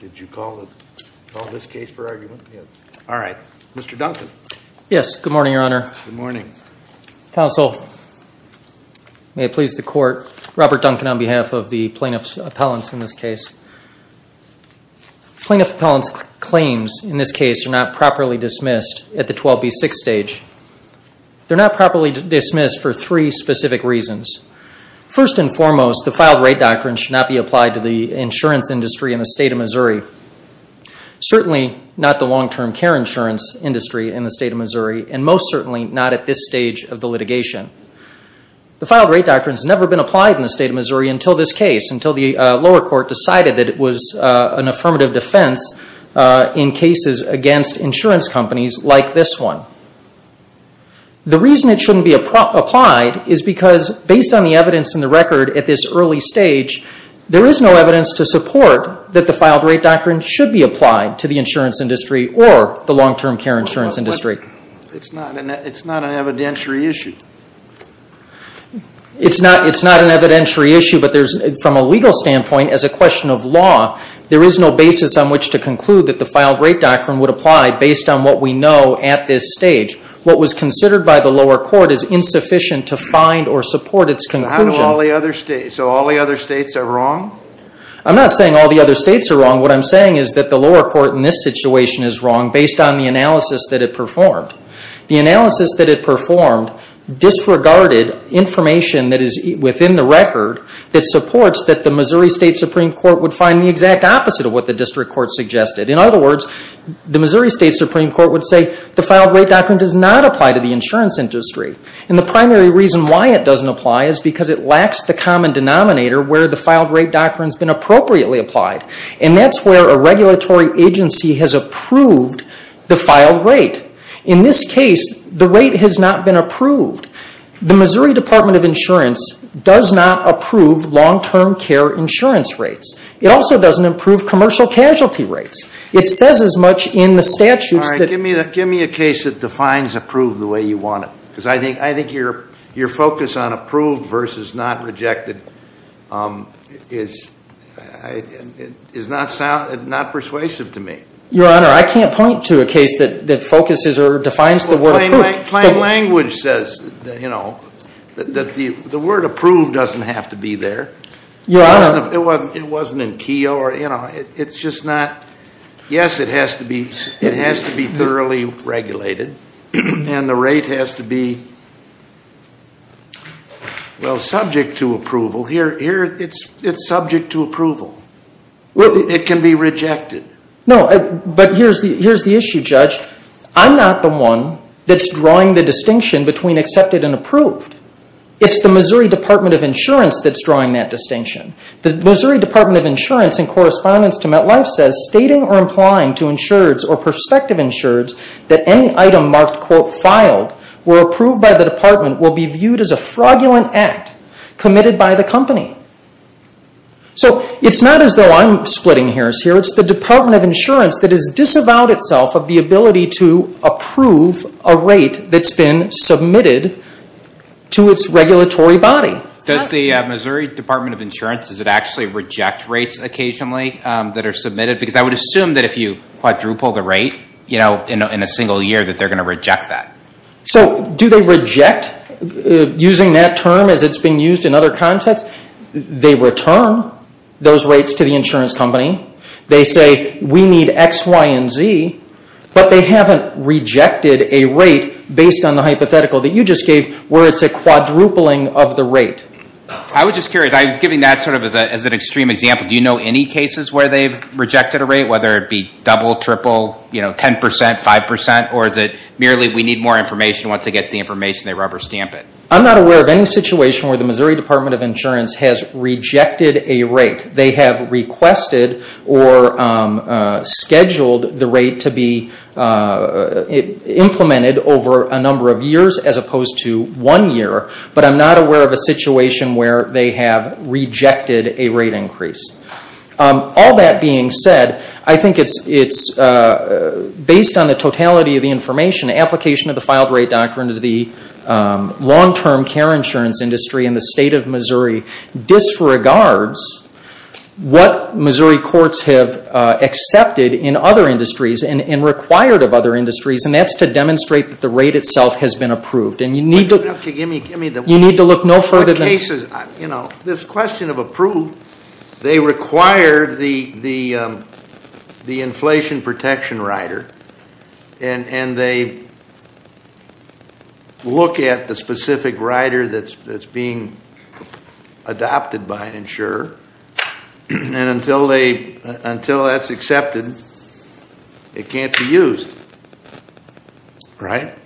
Did you call this case for argument? Yes. All right. Mr. Duncan. Yes. Good morning, Your Honor. Good morning. Counsel, may it please the Court, Robert Duncan on behalf of the Plaintiff's Appellants in this case. Plaintiff's Appellants claims in this case are not properly dismissed at the 12B6 stage. They're not properly dismissed for three specific reasons. First and foremost, the filed rate doctrine should not be applied to the insurance industry in the State of Missouri, certainly not the long-term care insurance industry in the State of Missouri, and most certainly not at this stage of the litigation. The filed rate doctrine has never been applied in the State of Missouri until this case, until the lower court decided that it was an affirmative defense in cases against insurance companies like this one. The reason it shouldn't be applied is because, based on the evidence in the record at this early stage, there is no evidence to support that the filed rate doctrine should be applied to the insurance industry or the long-term care insurance industry. It's not an evidentiary issue. It's not an evidentiary issue, but from a legal standpoint, as a question of law, there is no basis on which to conclude that the filed rate doctrine would apply based on what we know at this stage. What was considered by the lower court is insufficient to find or support its conclusion. So how do all the other states, so all the other states are wrong? I'm not saying all the other states are wrong. What I'm saying is that the lower court in this situation is wrong based on the analysis that it performed. The analysis that it performed disregarded information that is within the record that supports that the Missouri State Supreme Court would find the exact opposite of what the district court suggested. In other words, the Missouri State Supreme Court would say, the filed rate doctrine does not apply to the insurance industry. And the primary reason why it doesn't apply is because it lacks the common denominator where the filed rate doctrine has been appropriately applied. And that's where a regulatory agency has approved the filed rate. In this case, the rate has not been approved. The Missouri Department of Insurance does not approve long-term care insurance rates. It also doesn't approve commercial casualty rates. It says as much in the statutes that... All right, give me a case that defines approved the way you want it. Because I think your focus on approved versus not rejected is not persuasive to me. Your Honor, I can't point to a case that focuses or defines the word approved. Plain language says that the word approved doesn't have to be there. It wasn't in Keogh. It's just not. Yes, it has to be thoroughly regulated. And the rate has to be, well, subject to approval. Here it's subject to approval. It can be rejected. No, but here's the issue, Judge. I'm not the one that's drawing the distinction between accepted and approved. It's the Missouri Department of Insurance that's drawing that distinction. The Missouri Department of Insurance, in correspondence to MetLife, says... So it's not as though I'm splitting hairs here. It's the Department of Insurance that has disavowed itself of the ability to approve a rate that's been submitted to its regulatory body. Does the Missouri Department of Insurance, does it actually reject rates occasionally that are submitted? Because I would assume that if you quadruple the rate in a single year that they're going to reject that. So do they reject using that term as it's been used in other contexts? They return those rates to the insurance company. They say, we need X, Y, and Z. But they haven't rejected a rate based on the hypothetical that you just gave where it's a quadrupling of the rate. I was just curious. I'm giving that sort of as an extreme example. Do you know any cases where they've rejected a rate, whether it be double, triple, 10%, 5%? Or is it merely we need more information. Once they get the information, they rubber stamp it? I'm not aware of any situation where the Missouri Department of Insurance has rejected a rate. They have requested or scheduled the rate to be implemented over a number of years as opposed to one year. But I'm not aware of a situation where they have rejected a rate increase. All that being said, I think it's based on the totality of the information, the application of the filed rate doctrine to the long-term care insurance industry in the state of Missouri disregards what Missouri courts have accepted in other industries and required of other industries. And that's to demonstrate that the rate itself has been approved. And you need to look no further than that. They look at the specific rider that's being adopted by an insurer. And until that's accepted, it can't be used, right?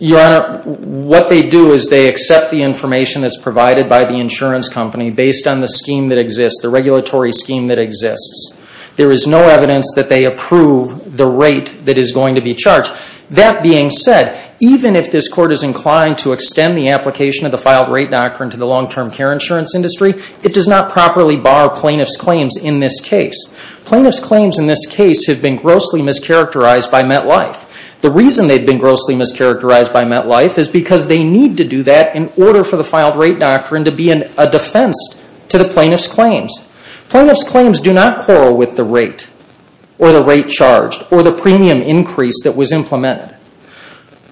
Your Honor, what they do is they accept the information that's provided by the insurance company based on the scheme that exists, the regulatory scheme that exists. There is no evidence that they approve the rate that is going to be charged. That being said, even if this Court is inclined to extend the application of the filed rate doctrine to the long-term care insurance industry, it does not properly bar plaintiff's claims in this case. Plaintiff's claims in this case have been grossly mischaracterized by MetLife. The reason they've been grossly mischaracterized by MetLife is because they need to do that in order for the filed rate doctrine to be a defense to the plaintiff's claims. Plaintiff's claims do not quarrel with the rate or the rate charged or the premium increase that was implemented.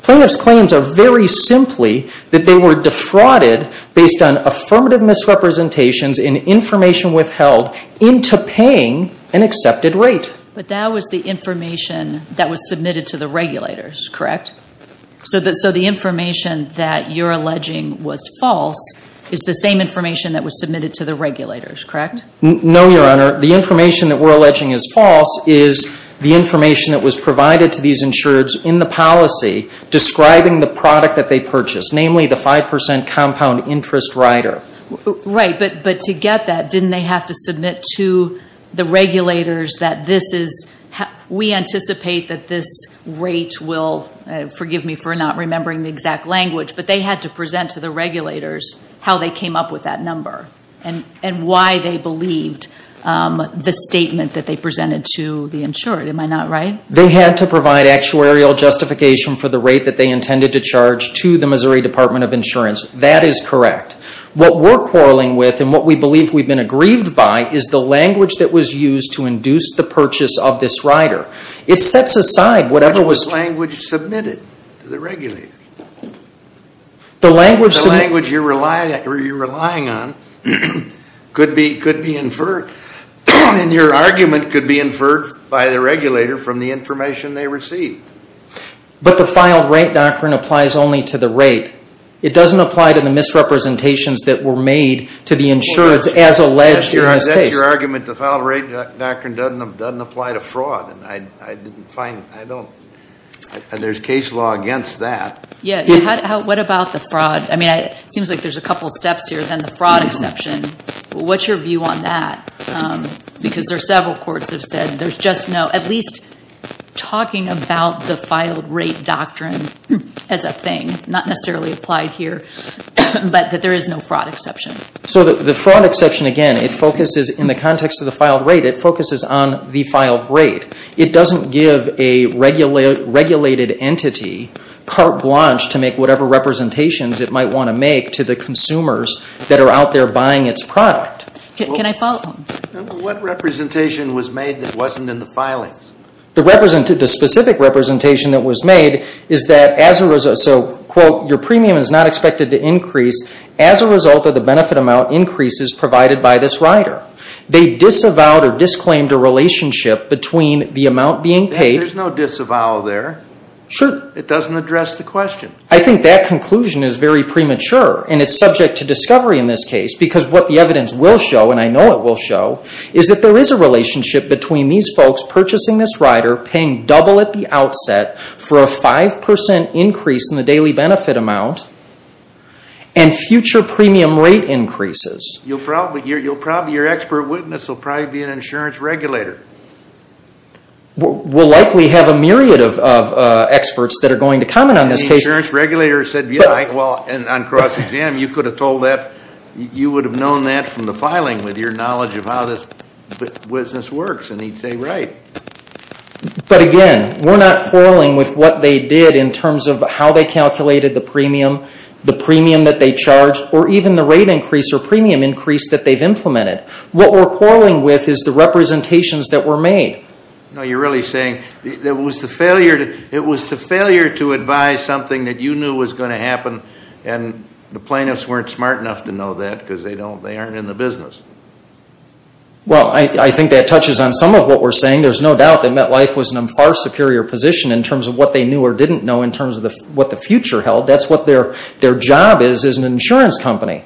Plaintiff's claims are very simply that they were defrauded based on affirmative misrepresentations and information withheld into paying an accepted rate. But that was the information that was submitted to the regulators, correct? So the information that you're alleging was false is the same information that was submitted to the regulators, correct? No, Your Honor. The information that we're alleging is false is the information that was provided to these insurers in the policy describing the product that they purchased, namely the 5% compound interest rider. Right, but to get that, didn't they have to submit to the regulators that this is we anticipate that this rate will, forgive me for not remembering the exact language, but they had to present to the regulators how they came up with that number and why they believed the statement that they presented to the insurer. Am I not right? They had to provide actuarial justification for the rate that they intended to charge to the Missouri Department of Insurance. That is correct. What we're quarreling with and what we believe we've been aggrieved by is the language that was used to induce the purchase of this rider. It sets aside whatever was Which was the language submitted to the regulators. The language you're relying on could be inferred and your argument could be inferred by the regulator from the information they received. But the filed rate doctrine applies only to the rate. It doesn't apply to the misrepresentations that were made to the insurers as alleged in this case. That's your argument. The filed rate doctrine doesn't apply to fraud. I didn't find, I don't, there's case law against that. Yeah, what about the fraud? I mean, it seems like there's a couple steps here than the fraud exception. What's your view on that? Because there are several courts have said there's just no, at least talking about the filed rate doctrine as a thing, not necessarily applied here, but that there is no fraud exception. So the fraud exception, again, it focuses, in the context of the filed rate, it focuses on the filed rate. It doesn't give a regulated entity carte blanche to make whatever representations it might want to make to the consumers that are out there buying its product. Can I follow? What representation was made that wasn't in the filings? The specific representation that was made is that as a result, so, quote, your premium is not expected to increase as a result of the benefit amount increases provided by this rider. They disavowed or disclaimed a relationship between the amount being paid. There's no disavow there. Sure. It doesn't address the question. I think that conclusion is very premature, and it's subject to discovery in this case, because what the evidence will show, and I know it will show, is that there is a relationship between these folks purchasing this rider, paying double at the outset for a 5% increase in the daily benefit amount, and future premium rate increases. You'll probably, your expert witness will probably be an insurance regulator. We'll likely have a myriad of experts that are going to comment on this case. And the insurance regulator said, yeah, well, and on cross-exam, you could have told that, you would have known that from the filing with your knowledge of how this business works, and he'd say, right. But again, we're not quarreling with what they did in terms of how they calculated the premium, the premium that they charged, or even the rate increase or premium increase that they've implemented. What we're quarreling with is the representations that were made. No, you're really saying it was the failure to advise something that you knew was going to happen, and the plaintiffs weren't smart enough to know that because they aren't in the business. Well, I think that touches on some of what we're saying. There's no doubt that MetLife was in a far superior position in terms of what they knew or didn't know in terms of what the future held. That's what their job is, is an insurance company.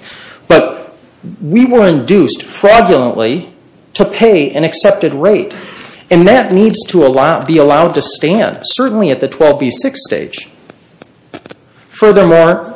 But we were induced, fraudulently, to pay an accepted rate. And that needs to be allowed to stand, certainly at the 12B6 stage. Furthermore,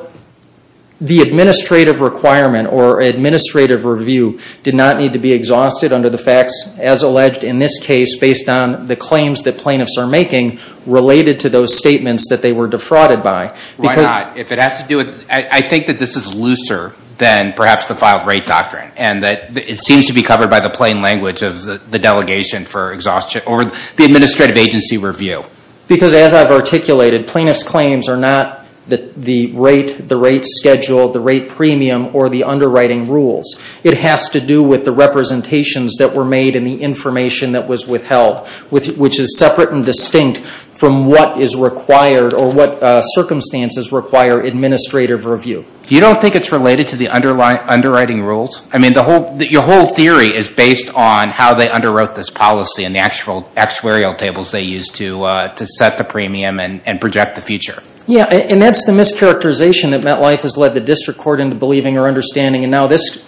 the administrative requirement or administrative review did not need to be exhausted under the facts as alleged in this case based on the claims that plaintiffs are making related to those statements that they were defrauded by. Why not? If it has to do with, I think that this is looser than perhaps the filed rate doctrine, and that it seems to be covered by the plain language of the delegation for exhaustion, or the administrative agency review. Because as I've articulated, plaintiffs' claims are not the rate, the rate schedule, the rate premium, or the underwriting rules. It has to do with the representations that were made and the information that was withheld, which is separate and distinct from what is required or what circumstances require administrative review. You don't think it's related to the underwriting rules? I mean, your whole theory is based on how they underwrote this policy and the actuarial tables they used to set the premium and project the future. Yeah, and that's the mischaracterization that MetLife has led the district court into believing or understanding, and now this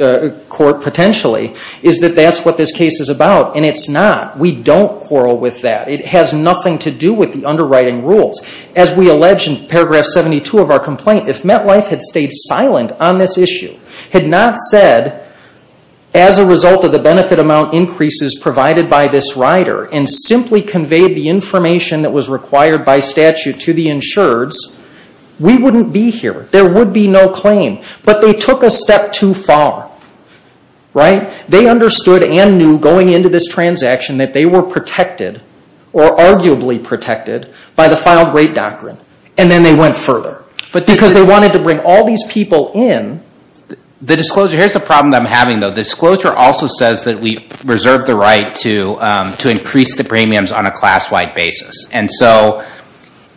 court potentially, is that that's what this case is about. And it's not. We don't quarrel with that. It has nothing to do with the underwriting rules. As we allege in paragraph 72 of our complaint, if MetLife had stayed silent on this issue, had not said, as a result of the benefit amount increases provided by this rider, and simply conveyed the information that was required by statute to the insureds, we wouldn't be here. There would be no claim. But they took a step too far. They understood and knew going into this transaction that they were protected, or arguably protected, by the filed rate doctrine. And then they went further. But because they wanted to bring all these people in, the disclosure, here's the problem that I'm having, though. The disclosure also says that we reserve the right to increase the premiums on a class-wide basis. And so,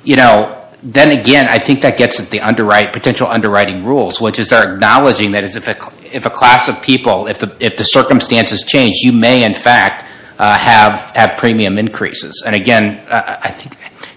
you know, then again, I think that gets at the potential underwriting rules, which is they're acknowledging that if a class of people, if the circumstances change, you may, in fact, have premium increases. And again,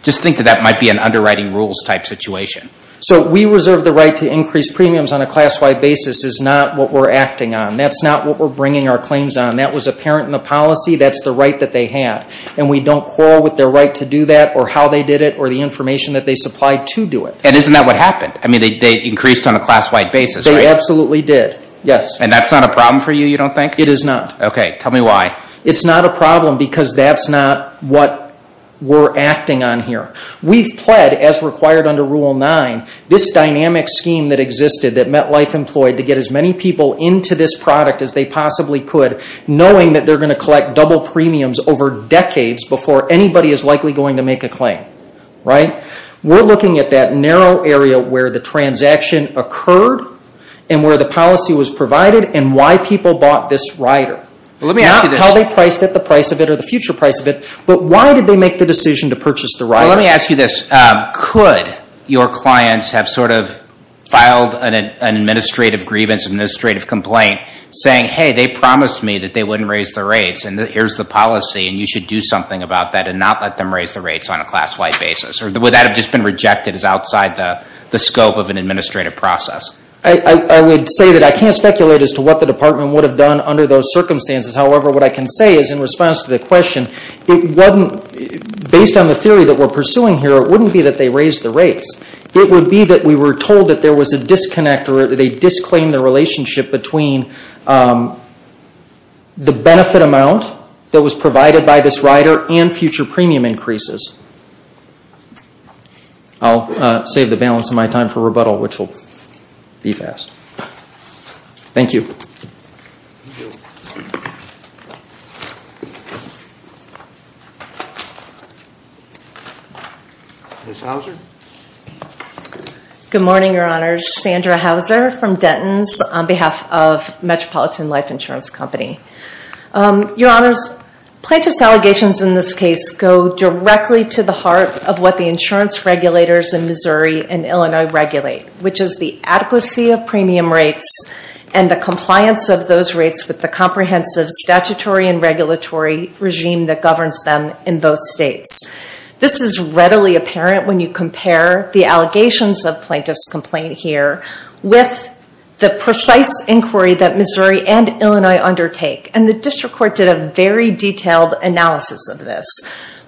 just think that that might be an underwriting rules type situation. So we reserve the right to increase premiums on a class-wide basis is not what we're acting on. That's not what we're bringing our claims on. That was apparent in the policy. That's the right that they had. And we don't quarrel with their right to do that, or how they did it, or the information that they supplied to do it. And isn't that what happened? I mean, they increased on a class-wide basis, right? They absolutely did, yes. And that's not a problem for you, you don't think? It is not. Okay. Tell me why. It's not a problem because that's not what we're acting on here. We've pled, as required under Rule 9, this dynamic scheme that existed that MetLife employed to get as many people into this product as they possibly could, knowing that they're going to collect double premiums over decades before anybody is likely going to make a claim, right? We're looking at that narrow area where the transaction occurred and where the policy was provided and why people bought this rider. Well, let me ask you this. Not how they priced it, the price of it, or the future price of it, but why did they make the decision to purchase the rider? Well, let me ask you this. Could your clients have sort of filed an administrative grievance, an administrative complaint, saying, hey, they promised me that they wouldn't raise the rates and here's the policy and you should do something about that and not let them raise the rates on a class-wide basis? Or would that have just been rejected as outside the scope of an administrative process? I would say that I can't speculate as to what the department would have done under those circumstances. However, what I can say is in response to the question, based on the theory that we're pursuing here, it wouldn't be that they raised the rates. It would be that we were told that there was a disconnect or they disclaimed the relationship between the benefit amount that was provided by this rider and future premium increases. I'll save the balance of my time for rebuttal, which will be fast. Thank you. Ms. Hauser? Good morning, Your Honors. Sandra Hauser from Denton's on behalf of Metropolitan Life Insurance Company. Your Honors, plaintiff's allegations in this case go directly to the heart of what the insurance regulators in Missouri and Illinois regulate, which is the adequacy of premium rates and the compliance of those rates with the comprehensive statutory and regulatory regime that governs them in both states. This is readily apparent when you compare the allegations of plaintiff's complaint here with the precise inquiry that Missouri and Illinois undertake. The district court did a very detailed analysis of this.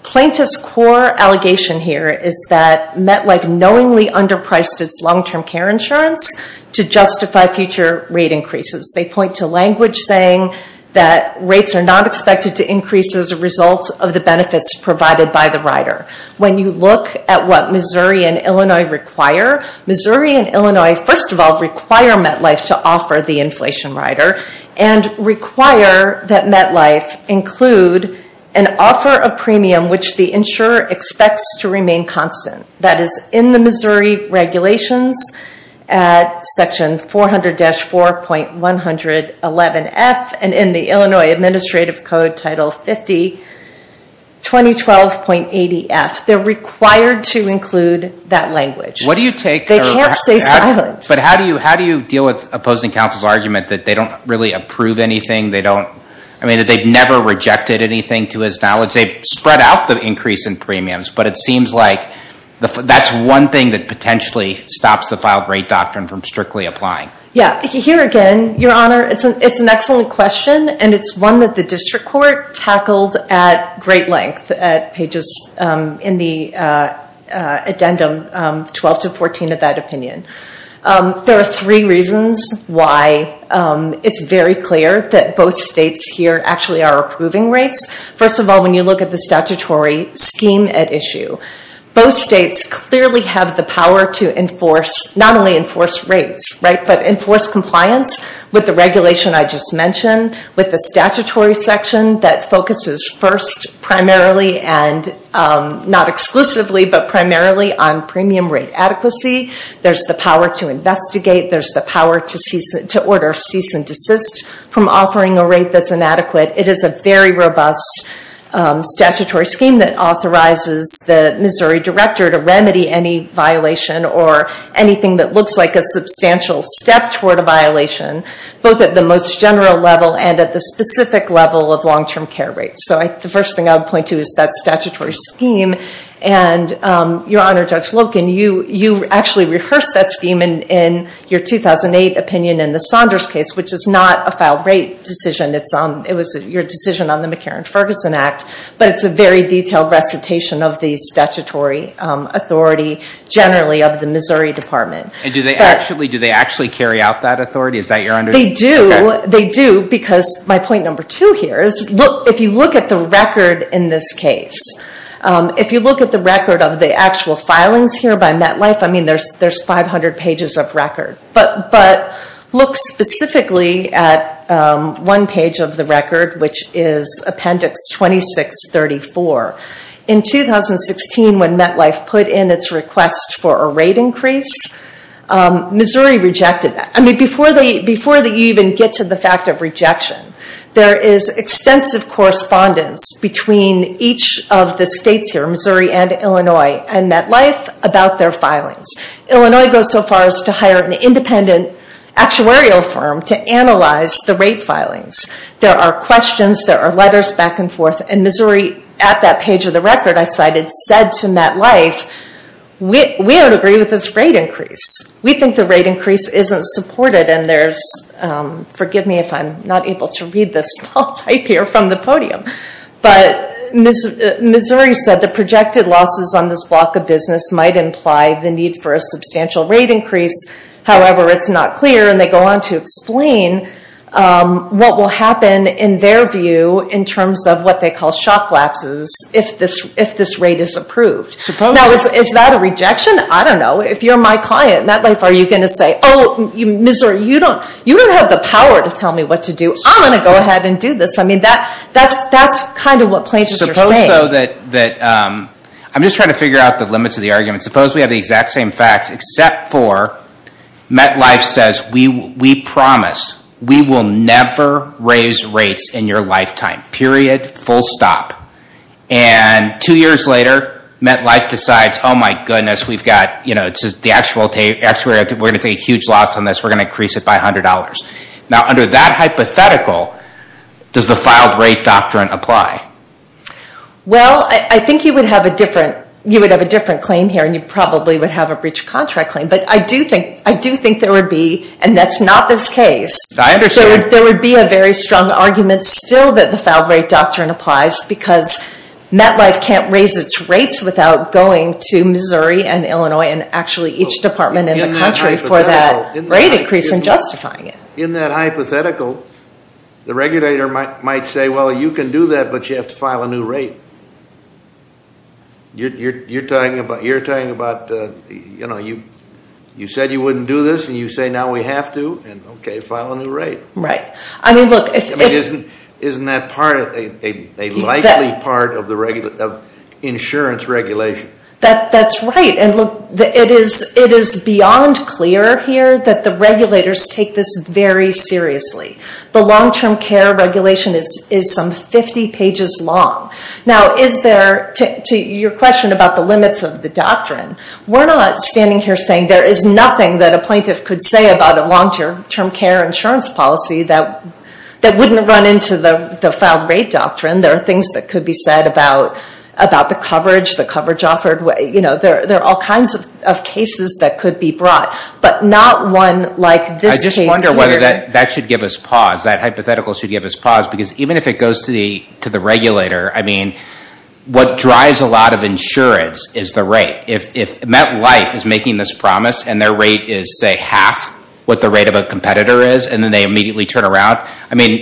Plaintiff's core allegation here is that MetLife knowingly underpriced its long-term care insurance to justify future rate increases. They point to language saying that rates are not expected to increase as a result of the benefits provided by the rider. When you look at what Missouri and Illinois require, Missouri and Illinois first of all require MetLife to offer the inflation rider and require that MetLife include an offer of premium which the insurer expects to remain constant. That is in the Missouri regulations at section 400-4.111F and in the Illinois Administrative Code Title 50-2012.80F. They're required to include that language. They can't stay silent. But how do you deal with opposing counsel's argument that they don't really approve anything? They've never rejected anything to his knowledge. They've spread out the increase in premiums, but it seems like that's one thing that potentially stops the file rate doctrine from strictly applying. Here again, Your Honor, it's an excellent question and it's one that the district court tackled at great length at pages in the addendum 12-14 of that opinion. There are three reasons why it's very clear that both states here actually are approving rates. First of all, when you look at the statutory scheme at issue, both states clearly have the power to not only enforce rates, but enforce compliance with the regulation I just mentioned, with the statutory section that focuses first primarily and not exclusively, but primarily on premium rate adequacy. There's the power to investigate. There's the power to order cease and desist from offering a rate that's inadequate. It is a very robust statutory scheme that authorizes the Missouri director to remedy any violation or anything that looks like a substantial step toward a violation, both at the most general level and at the specific level of long-term care rates. The first thing I would point to is that statutory scheme. Your Honor, Judge Loken, you actually rehearsed that scheme in your 2008 opinion in the Saunders case, which is not a file rate decision. It was your decision on the McCarran-Ferguson Act, but it's a very detailed recitation of the statutory authority generally of the Missouri Department. And do they actually carry out that authority? Is that your understanding? They do. They do because my point number two here is if you look at the record in this case, if you look at the record of the actual filings here by MetLife, I mean there's 500 pages of record. But look specifically at one page of the record, which is Appendix 2634. In 2016, when MetLife put in its request for a rate increase, Missouri rejected that. I mean before you even get to the fact of rejection, there is extensive correspondence between each of the states here, Missouri and Illinois, and MetLife about their filings. Illinois goes so far as to hire an independent actuarial firm to analyze the rate filings. There are questions. There are letters back and forth. And Missouri, at that page of the record I cited, said to MetLife, we don't agree with this rate increase. We think the rate increase isn't supported. And there's, forgive me if I'm not able to read this small type here from the podium, but Missouri said the projected losses on this block of business might imply the need for a substantial rate increase. However, it's not clear. And they go on to explain what will happen, in their view, in terms of what they call shock lapses if this rate is approved. Now is that a rejection? I don't know. If you're my client, MetLife, are you going to say, oh Missouri, you don't have the power to tell me what to do. I'm going to go ahead and do this. That's kind of what plaintiffs are saying. I'm just trying to figure out the limits of the argument. Suppose we have the exact same facts, except for MetLife says, we promise we will never raise rates in your lifetime. Period. Full stop. And two years later, MetLife decides, oh my goodness, we're going to take a huge loss on this. We're going to increase it by $100. Now under that hypothetical, does the filed rate doctrine apply? Well, I think you would have a different claim here, and you probably would have a breach of contract claim. But I do think there would be, and that's not this case, there would be a very strong argument still that the filed rate doctrine applies because MetLife can't raise its rates without going to Missouri and Illinois and actually each department in the country for that rate increase and justifying it. In that hypothetical, the regulator might say, well, you can do that, but you have to file a new rate. You're talking about, you know, you said you wouldn't do this, and you say now we have to, and okay, file a new rate. Right. I mean, look. Isn't that a likely part of insurance regulation? That's right. And, look, it is beyond clear here that the regulators take this very seriously. The long-term care regulation is some 50 pages long. Now is there, to your question about the limits of the doctrine, we're not standing here saying there is nothing that a plaintiff could say about a long-term care insurance policy that wouldn't run into the filed rate doctrine. There are things that could be said about the coverage, you know, there are all kinds of cases that could be brought, but not one like this case here. I just wonder whether that should give us pause, that hypothetical should give us pause, because even if it goes to the regulator, I mean, what drives a lot of insurance is the rate. If MetLife is making this promise and their rate is, say, half what the rate of a competitor is, and then they immediately turn around, I mean,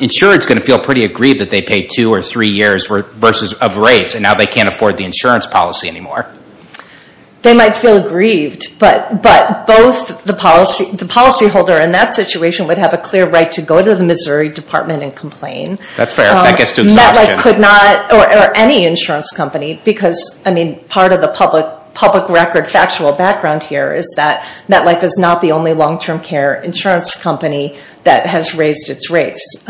insurance is going to feel pretty aggrieved that they paid two or three years worth of rates, and now they can't afford the insurance policy anymore. They might feel aggrieved, but both the policyholder in that situation would have a clear right to go to the Missouri Department and complain. That's fair. That gets to exhaustion. MetLife could not, or any insurance company, because, I mean, part of the public record factual background here is that MetLife is not the only long-term care insurance company that has raised its rates.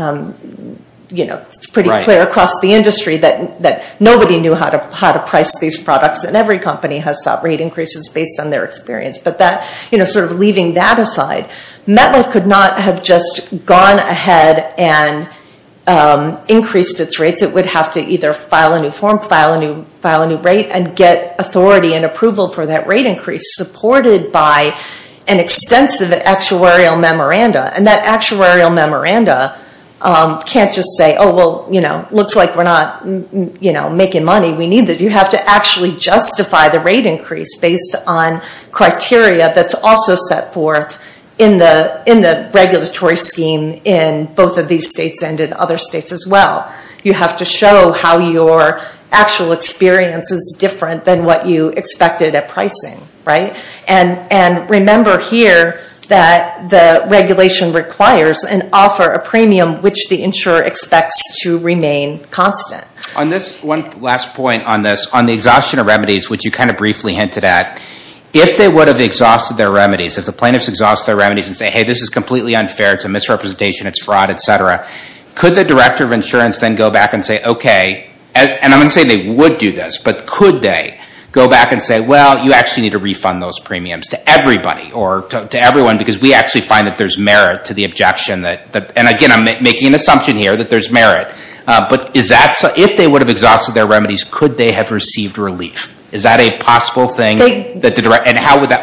It's pretty clear across the industry that nobody knew how to price these products, and every company has sought rate increases based on their experience. But sort of leaving that aside, MetLife could not have just gone ahead and increased its rates. It would have to either file a new form, file a new rate, and get authority and approval for that rate increase, supported by an extensive actuarial memoranda. And that actuarial memoranda can't just say, oh, well, looks like we're not making money. We need this. You have to actually justify the rate increase based on criteria that's also set forth in the regulatory scheme in both of these states and in other states as well. You have to show how your actual experience is different than what you expected at pricing, right? And remember here that the regulation requires an offer, a premium which the insurer expects to remain constant. One last point on this. On the exhaustion of remedies, which you kind of briefly hinted at, if they would have exhausted their remedies, if the plaintiffs exhausted their remedies and said, hey, this is completely unfair, it's a misrepresentation, it's fraud, et cetera, could the director of insurance then go back and say, okay, and I'm not saying they would do this, but could they go back and say, well, you actually need to refund those premiums to everybody or to everyone because we actually find that there's merit to the objection. And again, I'm making an assumption here that there's merit. But if they would have exhausted their remedies, could they have received relief? Is that a possible thing? And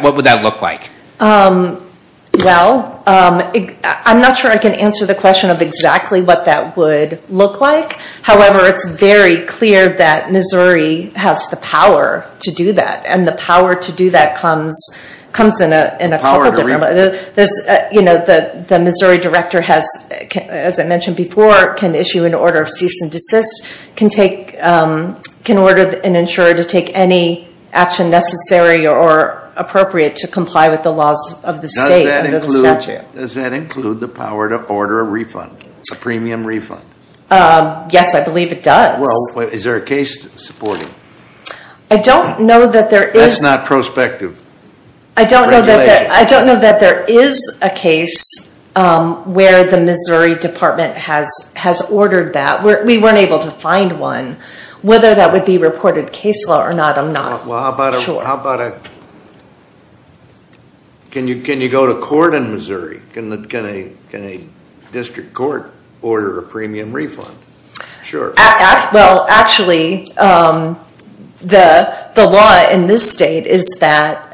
what would that look like? Well, I'm not sure I can answer the question of exactly what that would look like. However, it's very clear that Missouri has the power to do that. And the power to do that comes in a couple different ways. The Missouri director has, as I mentioned before, can issue an order of cease and desist, can order an insurer to take any action necessary or appropriate to comply with the laws of the state under the statute. Does that include the power to order a refund, a premium refund? Yes, I believe it does. Well, is there a case to support it? I don't know that there is. That's not prospective. I don't know that there is a case where the Missouri Department has ordered that. We weren't able to find one. Whether that would be reported case law or not, I'm not sure. Well, how about a, can you go to court in Missouri? Can a district court order a premium refund? Sure. Well, actually, the law in this state is that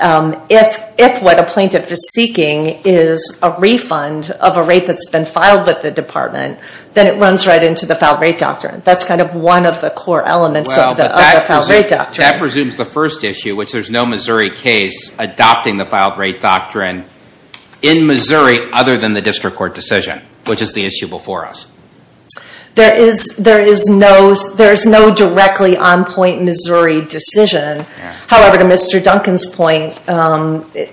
if what a plaintiff is seeking is a refund of a rate that's been filed with the department, then it runs right into the Filed Rate Doctrine. That's kind of one of the core elements of the Filed Rate Doctrine. Well, that presumes the first issue, which there's no Missouri case adopting the Filed Rate Doctrine in Missouri other than the district court decision, which is the issue before us. There is no directly on-point Missouri decision. However, to Mr. Duncan's point,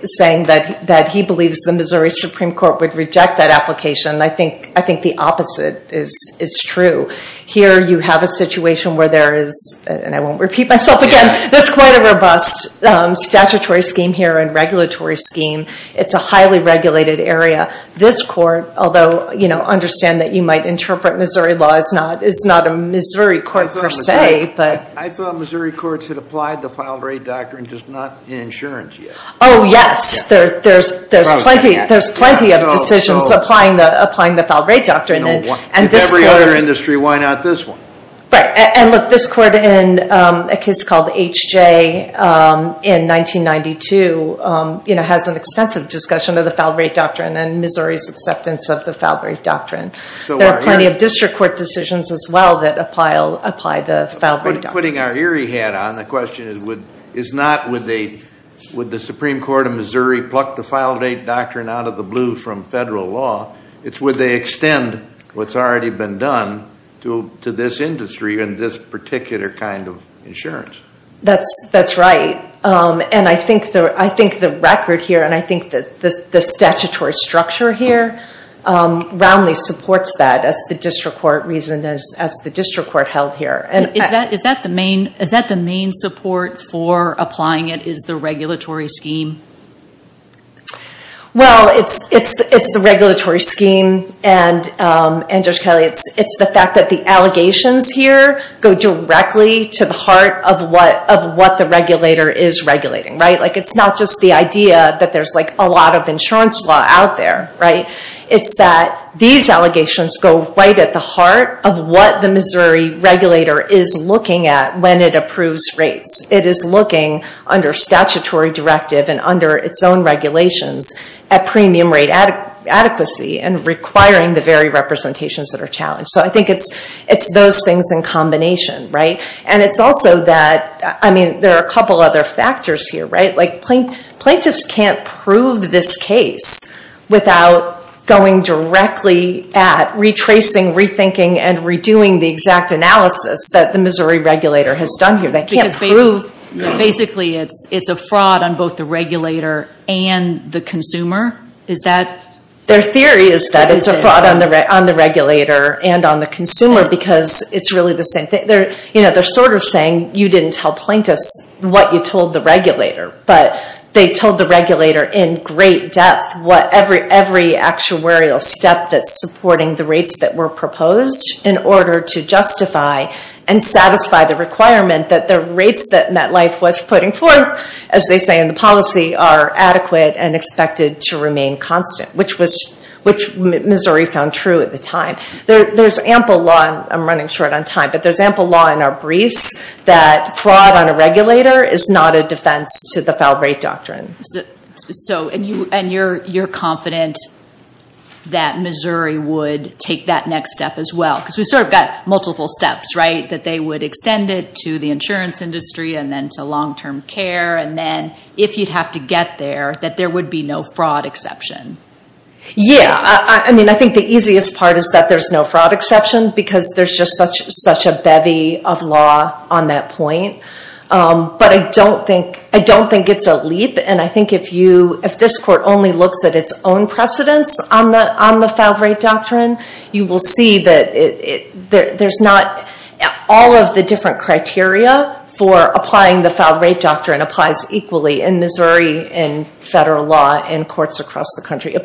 saying that he believes the Missouri Supreme Court would reject that application, I think the opposite is true. Here you have a situation where there is, and I won't repeat myself again, there's quite a robust statutory scheme here and regulatory scheme. It's a highly regulated area. This court, although I understand that you might interpret Missouri law as not a Missouri court per se. I thought Missouri courts had applied the Filed Rate Doctrine, just not in insurance yet. Oh, yes. There's plenty of decisions applying the Filed Rate Doctrine. If every other industry, why not this one? Right. And look, this court in a case called H.J. in 1992 has an extensive discussion of the Filed Rate Doctrine and Missouri's acceptance of the Filed Rate Doctrine. There are plenty of district court decisions as well that apply the Filed Rate Doctrine. Putting our eerie hat on, the question is not would the Supreme Court of Missouri pluck the Filed Rate Doctrine out of the blue from federal law. It's would they extend what's already been done to this industry and this particular kind of insurance. That's right. And I think the record here and I think the statutory structure here roundly supports that as the district court reasoned, as the district court held here. Is that the main support for applying it is the regulatory scheme? Well, it's the regulatory scheme. And Judge Kelly, it's the fact that the allegations here go directly to the heart of what the regulator is regulating. It's not just the idea that there's a lot of insurance law out there. It's that these allegations go right at the heart of what the Missouri regulator is looking at when it approves rates. It is looking under statutory directive and under its own regulations at premium rate adequacy and requiring the very representations that are challenged. So I think it's those things in combination. And it's also that there are a couple other factors here. Plaintiffs can't prove this case without going directly at retracing, rethinking, and redoing the exact analysis that the Missouri regulator has done here. Basically, it's a fraud on both the regulator and the consumer? Their theory is that it's a fraud on the regulator and on the consumer because it's really the same thing. They're sort of saying, you didn't tell plaintiffs what you told the regulator. But they told the regulator in great depth what every actuarial step that's supporting the rates that were proposed in order to justify and satisfy the requirement that the rates that MetLife was putting forth, as they say in the policy, are adequate and expected to remain constant, which Missouri found true at the time. There's ample law, and I'm running short on time, but there's ample law in our briefs that fraud on a regulator is not a defense to the foul rate doctrine. And you're confident that Missouri would take that next step as well? Because we've sort of got multiple steps, right? That they would extend it to the insurance industry and then to long-term care, and then if you'd have to get there, that there would be no fraud exception? Yeah. I mean, I think the easiest part is that there's no fraud exception because there's just such a bevy of law on that point. But I don't think it's a leap. And I think if this court only looks at its own precedence on the foul rate doctrine, you will see that there's not all of the different criteria for applying the foul rate doctrine applies equally in Missouri and federal law and courts across the country. It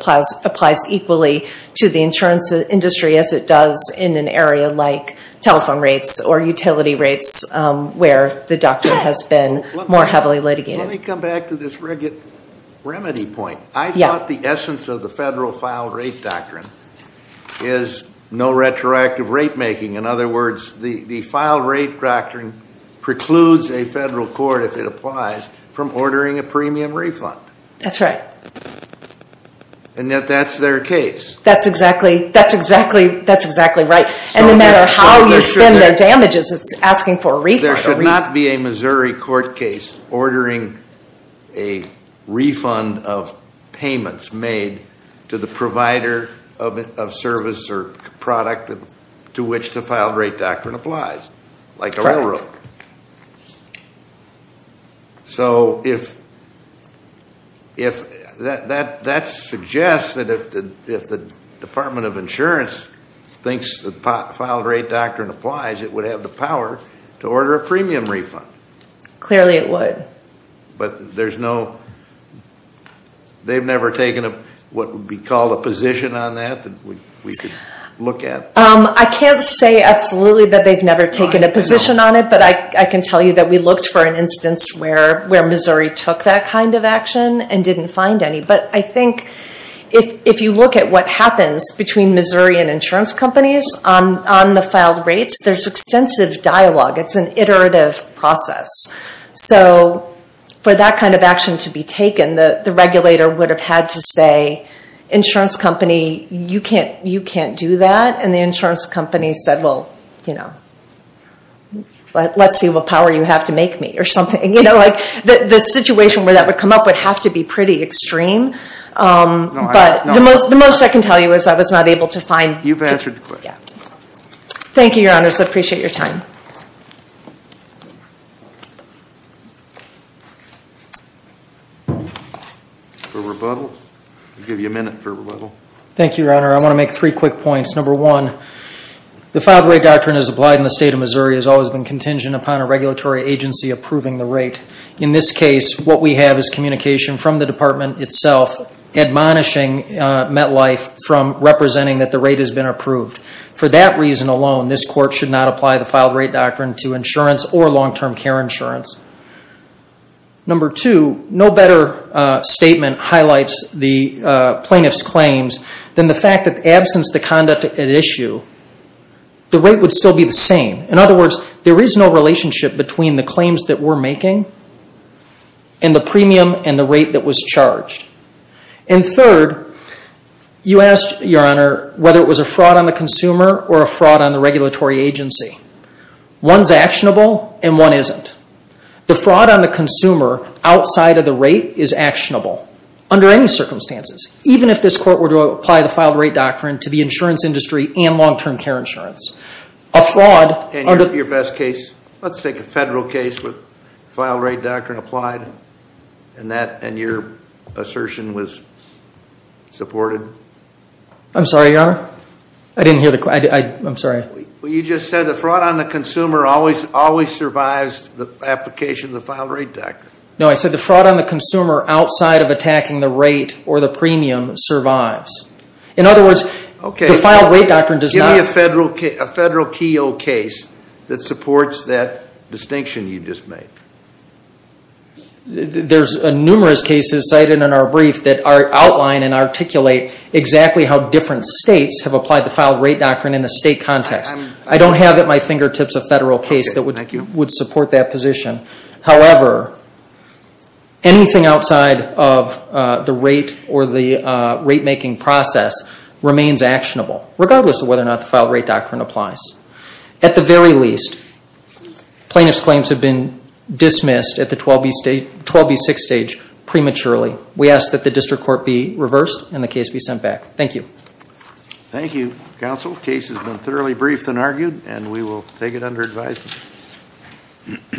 applies equally to the insurance industry as it does in an area like telephone rates or utility rates where the doctrine has been more heavily litigated. Let me come back to this remedy point. I thought the essence of the federal foul rate doctrine is no retroactive rate making. In other words, the foul rate doctrine precludes a federal court, if it applies, from ordering a premium refund. That's right. And yet that's their case. That's exactly right. And no matter how you spend their damages, it's asking for a refund. There should not be a Missouri court case ordering a refund of payments made to the provider of service or product to which the foul rate doctrine applies, like the railroad. So that suggests that if the Department of Insurance thinks the foul rate doctrine applies, it would have the power to order a premium refund. Clearly it would. But they've never taken what would be called a position on that that we could look at? I can't say absolutely that they've never taken a position on it, but I can tell you that we looked for an instance where Missouri took that kind of action and didn't find any. But I think if you look at what happens between Missouri and insurance companies on the fouled rates, there's extensive dialogue. It's an iterative process. So for that kind of action to be taken, the regulator would have had to say, insurance company, you can't do that. And the insurance company said, well, let's see what power you have to make me or something. The situation where that would come up would have to be pretty extreme. But the most I can tell you is I was not able to find. You've answered the question. Thank you, Your Honors. I appreciate your time. For rebuttal? I'll give you a minute for rebuttal. Thank you, Your Honor. I want to make three quick points. Number one, the filed rate doctrine as applied in the state of Missouri has always been contingent upon a regulatory agency approving the rate. In this case, what we have is communication from the department itself admonishing MetLife from representing that the rate has been approved. For that reason alone, this court should not apply the filed rate doctrine to insurance or long-term care insurance. Number two, no better statement highlights the plaintiff's claims than the fact that in the absence of the conduct at issue, the rate would still be the same. In other words, there is no relationship between the claims that we're making and the premium and the rate that was charged. And third, you asked, Your Honor, whether it was a fraud on the consumer or a fraud on the regulatory agency. One's actionable and one isn't. The fraud on the consumer outside of the rate is actionable under any circumstances, even if this court were to apply the filed rate doctrine to the insurance industry and long-term care insurance. Your best case, let's take a federal case with filed rate doctrine applied and your assertion was supported. I'm sorry, Your Honor. I didn't hear the question. I'm sorry. Well, you just said the fraud on the consumer always survives the application of the filed rate doctrine. No, I said the fraud on the consumer outside of attacking the rate or the premium survives. In other words, the filed rate doctrine does not. Is there a federal TO case that supports that distinction you just made? There's numerous cases cited in our brief that outline and articulate exactly how different states have applied the filed rate doctrine in a state context. I don't have at my fingertips a federal case that would support that position. However, anything outside of the rate or the rate-making process remains actionable, regardless of whether or not the filed rate doctrine applies. At the very least, plaintiff's claims have been dismissed at the 12B6 stage prematurely. We ask that the district court be reversed and the case be sent back. Thank you. Thank you, counsel. The case has been thoroughly briefed and argued, and we will take it under advisement.